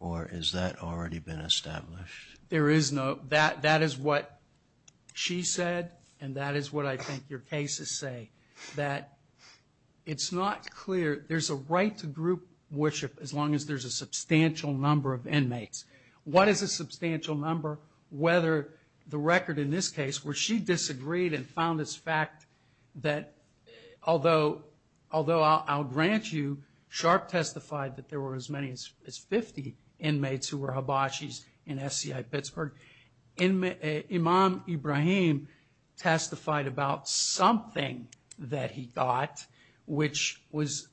or has that already been established? There is no. That is what she said, and that is what I think your cases say, that it's not clear. There's a right to group worship as long as there's a substantial number of inmates. What is a substantial number? Whether the record in this case where she disagreed and found this fact that although I'll grant you, Sharp testified that there were as many as 50 inmates who were hibachis in SCI Pittsburgh. Imam Ibrahim testified about something that he got, which was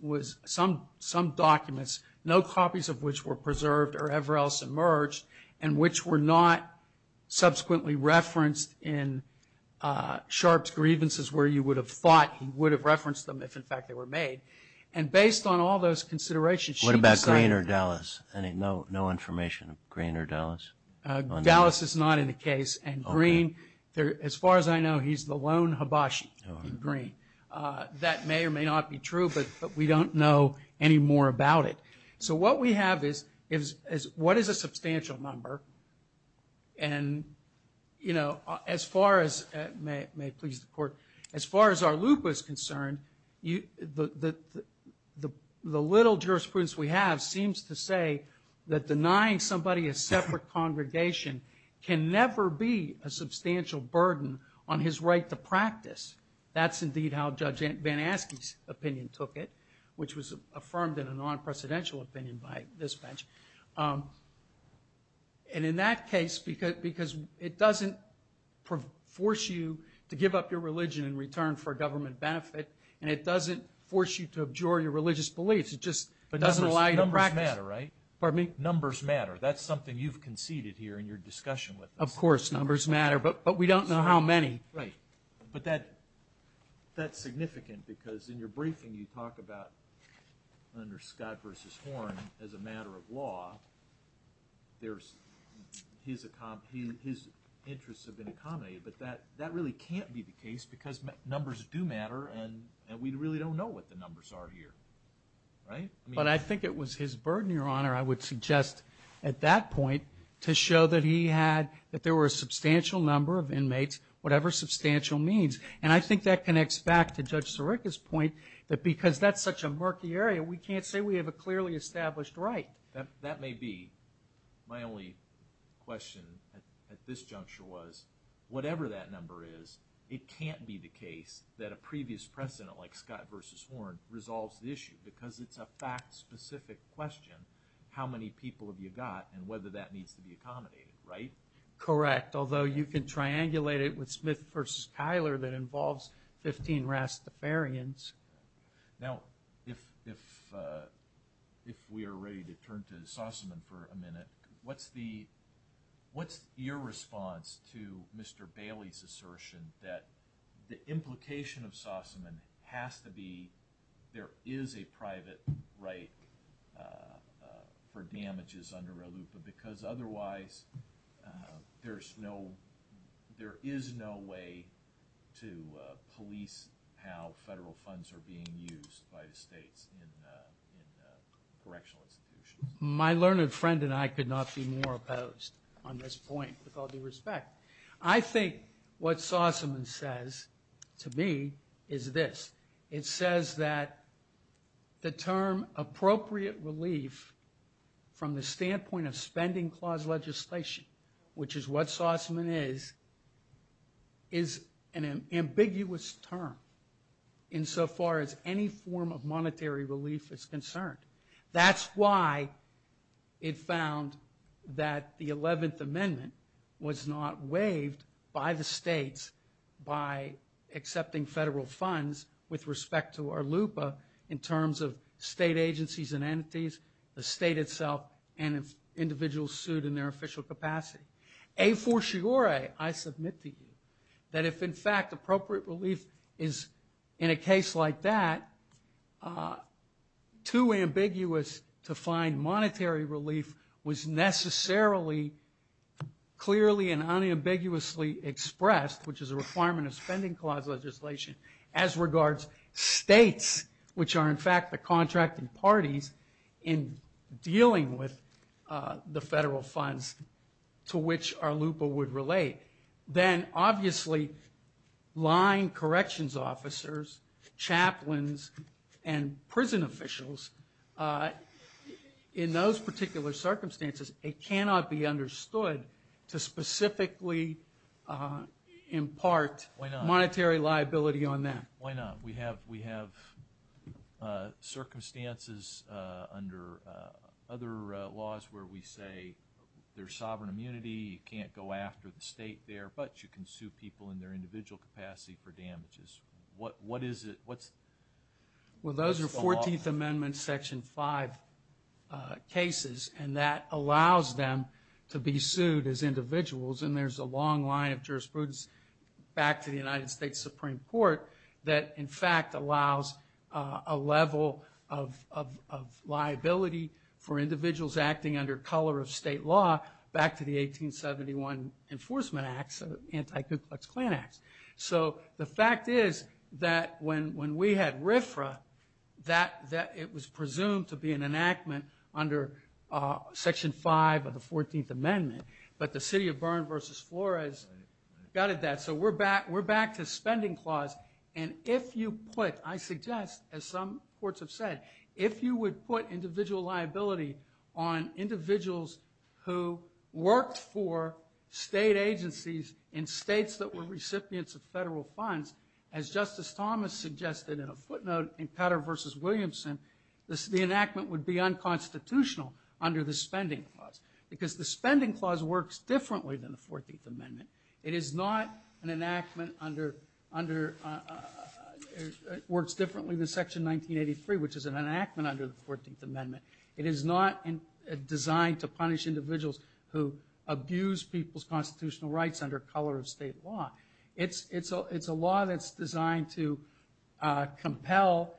some documents, no copies of which were preserved or ever else emerged, and which were not subsequently referenced in Sharp's grievances where you would have thought he would have referenced them if, in fact, they were made. And based on all those considerations, she decided... No information of Greene or Dallas? Dallas is not in the case, and Greene, as far as I know, he's the lone hibachi in Greene. That may or may not be true, but we don't know any more about it. So what we have is what is a substantial number, and as far as our loop was concerned, the little jurisprudence we have seems to say that denying somebody a separate congregation can never be a substantial burden on his right to practice. That's indeed how Judge Van Aske's opinion took it, which was affirmed in a non-presidential opinion by this bench. And in that case, because it doesn't force you to give up your religion in return for government benefit, and it doesn't force you to abjure your religious beliefs, it just doesn't allow you to practice. But numbers matter, right? Pardon me? Numbers matter. That's something you've conceded here in your discussion with us. Of course, numbers matter, but we don't know how many. Right. But that's significant because in your briefing, you talk about under Scott v. Horn, as a matter of law, his interests have been accommodated, but that really can't be the case because numbers do matter and we really don't know what the numbers are here. Right? But I think it was his burden, Your Honor, I would suggest at that point to show that he had, that there were a substantial number of inmates, whatever substantial means. And I think that connects back to Judge Sirica's point that because that's such a murky area, we can't say we have a clearly established right. That may be. My only question at this juncture was, whatever that number is, it can't be the case that a previous precedent like Scott v. Horn resolves the issue because it's a fact-specific question, how many people have you got and whether that needs to be accommodated, right? Correct, although you can triangulate it with Smith v. Kyler that involves 15 Rastafarians. Now, if we are ready to turn to Sossaman for a minute, what's your response to Mr. Bailey's assertion that the implication of Sossaman has to be there is a private right for damages under ALUPA because otherwise there is no way to police how federal funds are being used by the states in correctional institutions? My learned friend and I could not be more opposed on this point, with all due respect. I think what Sossaman says to me is this. It says that the term appropriate relief from the standpoint of spending clause legislation, which is what Sossaman is, is an ambiguous term insofar as any form of monetary relief is concerned. That's why it found that the 11th Amendment was not waived by the states by accepting federal funds with respect to ALUPA in terms of state agencies and entities, the state itself, and individuals sued in their official capacity. A fortiori, I submit to you, that if in fact appropriate relief is in a case like that, too ambiguous to find monetary relief was necessarily clearly and unambiguously expressed, which is a requirement of spending clause legislation, as regards states, which are in fact the contracting parties, in dealing with the federal funds to which ALUPA would relate, then obviously line corrections officers, chaplains, and prison officials, in those particular circumstances, it cannot be understood to specifically impart monetary liability on them. Why not? We have circumstances under other laws where we say there's sovereign immunity, you can't go after the state there, but you can sue people in their individual capacity for damages. What is it? Well, those are 14th Amendment Section 5 cases, and that allows them to be sued as individuals, and there's a long line of jurisprudence back to the United States Supreme Court that in fact allows a level of liability for individuals acting under color of state law back to the 1871 Enforcement Acts, Anti-Ku Klux Klan Acts. So the fact is that when we had RFRA, it was presumed to be an enactment under Section 5 of the 14th Amendment, but the City of Bern v. Flores gutted that, so we're back to spending clause, and if you put, I suggest, as some courts have said, if you would put individual liability on individuals who worked for state agencies in states that were recipients of federal funds, as Justice Thomas suggested in a footnote in Petter v. Williamson, the enactment would be unconstitutional under the spending clause, because the spending clause works differently than the 14th Amendment. It is not an enactment under, works differently than Section 1983, which is an enactment under the 14th Amendment. It is not designed to punish individuals who abuse people's constitutional rights under color of state law. It's a law that's designed to compel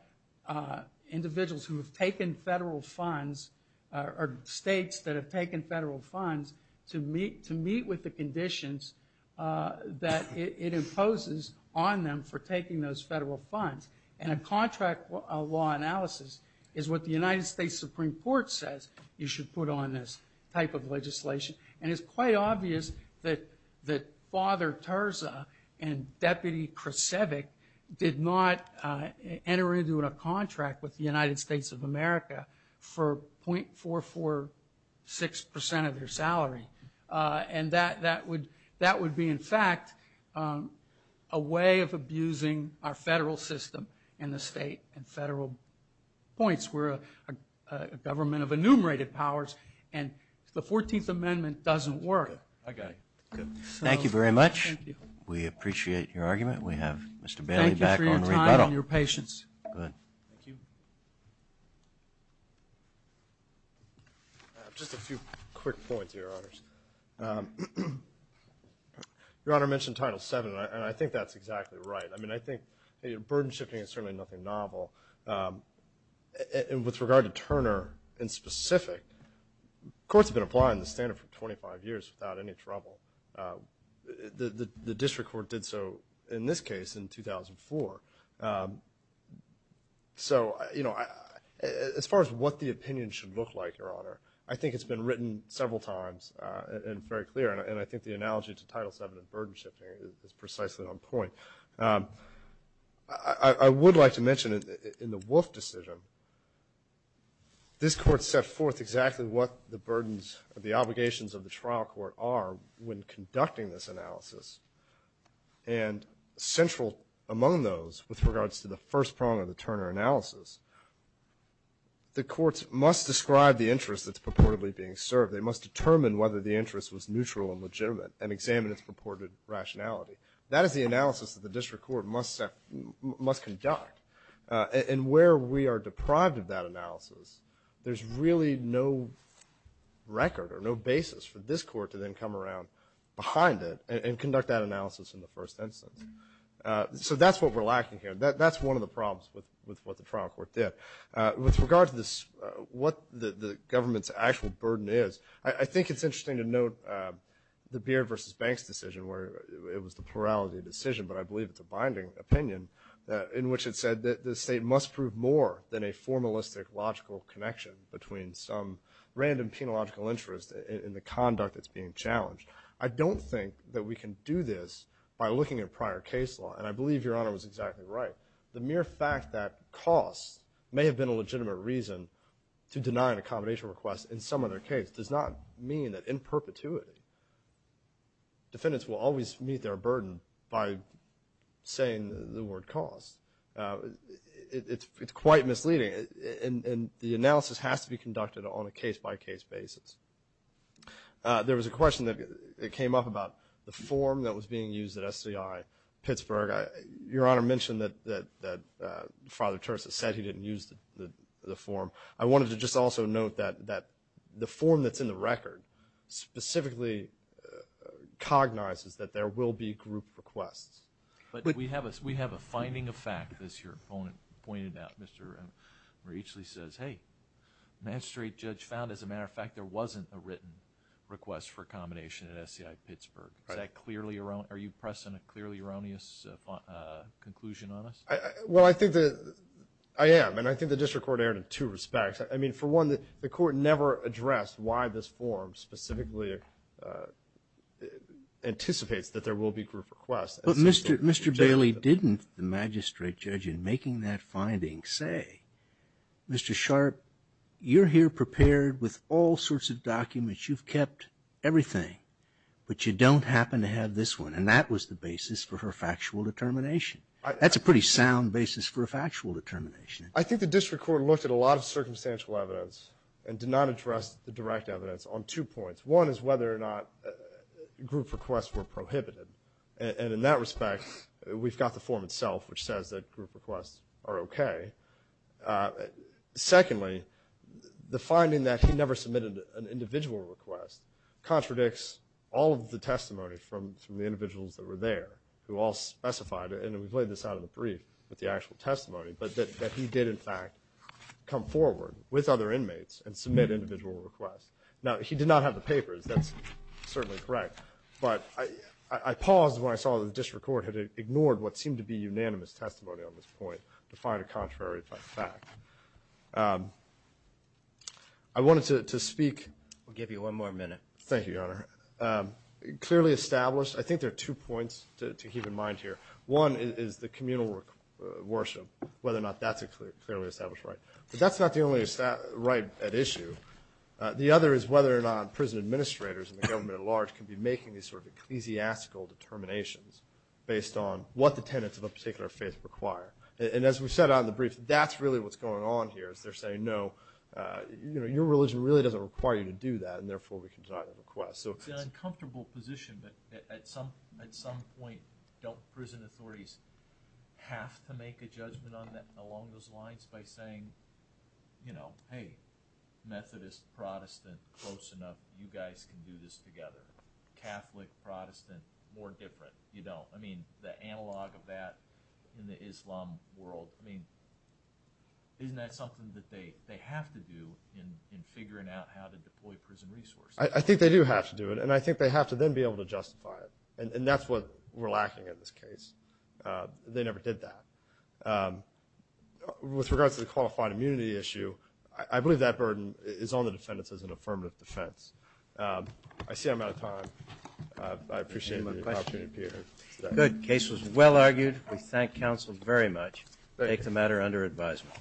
individuals who have taken federal funds, or states that have taken federal funds to meet with the conditions that it imposes on them for taking those federal funds, and a contract law analysis is what the United States Supreme Court says you should put on this type of legislation, and it's quite obvious that Father Terza and Deputy Krasevic did not enter into a contract with the United States of America for .446% of their salary, and that would be, in fact, a way of abusing our federal system and the state and federal points. We're a government of enumerated powers, and the 14th Amendment doesn't work. I got it. Thank you very much. We appreciate your argument. We have Mr. Bailey back on rebuttal. Thank you for your time and your patience. Good. Thank you. Just a few quick points, Your Honors. Your Honor mentioned Title VII, and I think that's exactly right. I mean, I think burden-shifting is certainly nothing novel, and with regard to Turner in specific, courts have been applying the standard for 25 years without any trouble. The district court did so in this case in 2004, so, you know, as far as what the opinion should look like, Your Honor, I think it's been written several times and very clear, and I think the analogy to Title VII and burden-shifting is precisely on point. I would like to mention in the Wolf decision, this court set forth exactly what the burdens or the obligations of the trial court are when conducting this analysis, and central among those, with regards to the first prong of the Turner analysis, the courts must describe the interest that's purportedly being served. They must determine whether the interest was neutral and legitimate and examine its purported rationality. That is the analysis that the district court must conduct, and where we are deprived of that analysis, there's really no record or no basis for this court to then come around behind it and conduct that analysis in the first instance. So that's what we're lacking here. That's one of the problems with what the trial court did. With regard to what the government's actual burden is, I think it's interesting to note the Beard v. Banks decision where it was the plurality decision, but I believe it's a binding opinion, in which it said that the state must prove more than a formalistic logical connection between some random penological interest in the conduct that's being challenged. I don't think that we can do this by looking at prior case law, and I believe Your Honor was exactly right. The mere fact that costs may have been a legitimate reason to deny an accommodation request in some other case does not mean that in perpetuity defendants will always meet their burden by saying the word cost. It's quite misleading, and the analysis has to be conducted on a case-by-case basis. There was a question that came up about the form that was being used at SCI Pittsburgh. Your Honor mentioned that Father Terzis said he didn't use the form. I wanted to just also note that the form that's in the record specifically cognizes that there will be group requests. But we have a finding of fact, as your opponent pointed out. Mr. Reichle says, hey, magistrate judge found, as a matter of fact, there wasn't a written request for accommodation at SCI Pittsburgh. Is that clearly erroneous? Are you pressing a clearly erroneous conclusion on us? Well, I think that I am, and I think the district court erred in two respects. I mean, for one, the court never addressed why this form specifically anticipates that there will be group requests. But Mr. Bailey, didn't the magistrate judge in making that finding say, Mr. Sharp, you're here prepared with all sorts of documents, you've kept everything, but you don't happen to have this one. And that was the basis for her factual determination. That's a pretty sound basis for a factual determination. I think the district court looked at a lot of circumstantial evidence and did not address the direct evidence on two points. One is whether or not group requests were prohibited. And in that respect, we've got the form itself, which says that group requests are okay. Secondly, the finding that he never submitted an individual request contradicts all of the testimony from the individuals that were there who all specified, and we've laid this out in the brief, with the actual testimony, but that he did, in fact, come forward with other inmates and submit individual requests. Now, he did not have the papers. That's certainly correct. But I paused when I saw that the district court had ignored what seemed to be unanimous testimony on this point to find a contrary fact. I wanted to speak... We'll give you one more minute. Thank you, Your Honor. Clearly established, I think there are two points to keep in mind here. One is the communal worship, whether or not that's a clearly established right. But that's not the only right at issue. The other is whether or not prison administrators and the government at large can be making these sort of ecclesiastical determinations based on what the tenets of a particular faith require. And as we've said out in the brief, that's really what's going on here is they're saying, no, your religion really doesn't require you to do that, and therefore we can deny the request. It's an uncomfortable position, but at some point don't prison authorities have to make a judgment along those lines by saying, you know, hey, Methodist, Protestant, close enough, you guys can do this together. Catholic, Protestant, more different. You don't. I mean, the analog of that in the Islam world. I mean, isn't that something that they have to do in figuring out how to deploy prison resources? I think they do have to do it, and I think they have to then be able to justify it. And that's what we're lacking in this case. They never did that. With regards to the qualified immunity issue, I believe that burden is on the defendants as an affirmative defense. I see I'm out of time. I appreciate the opportunity to appear. Good. The case was well argued. We thank counsel very much. Take the matter under advisement.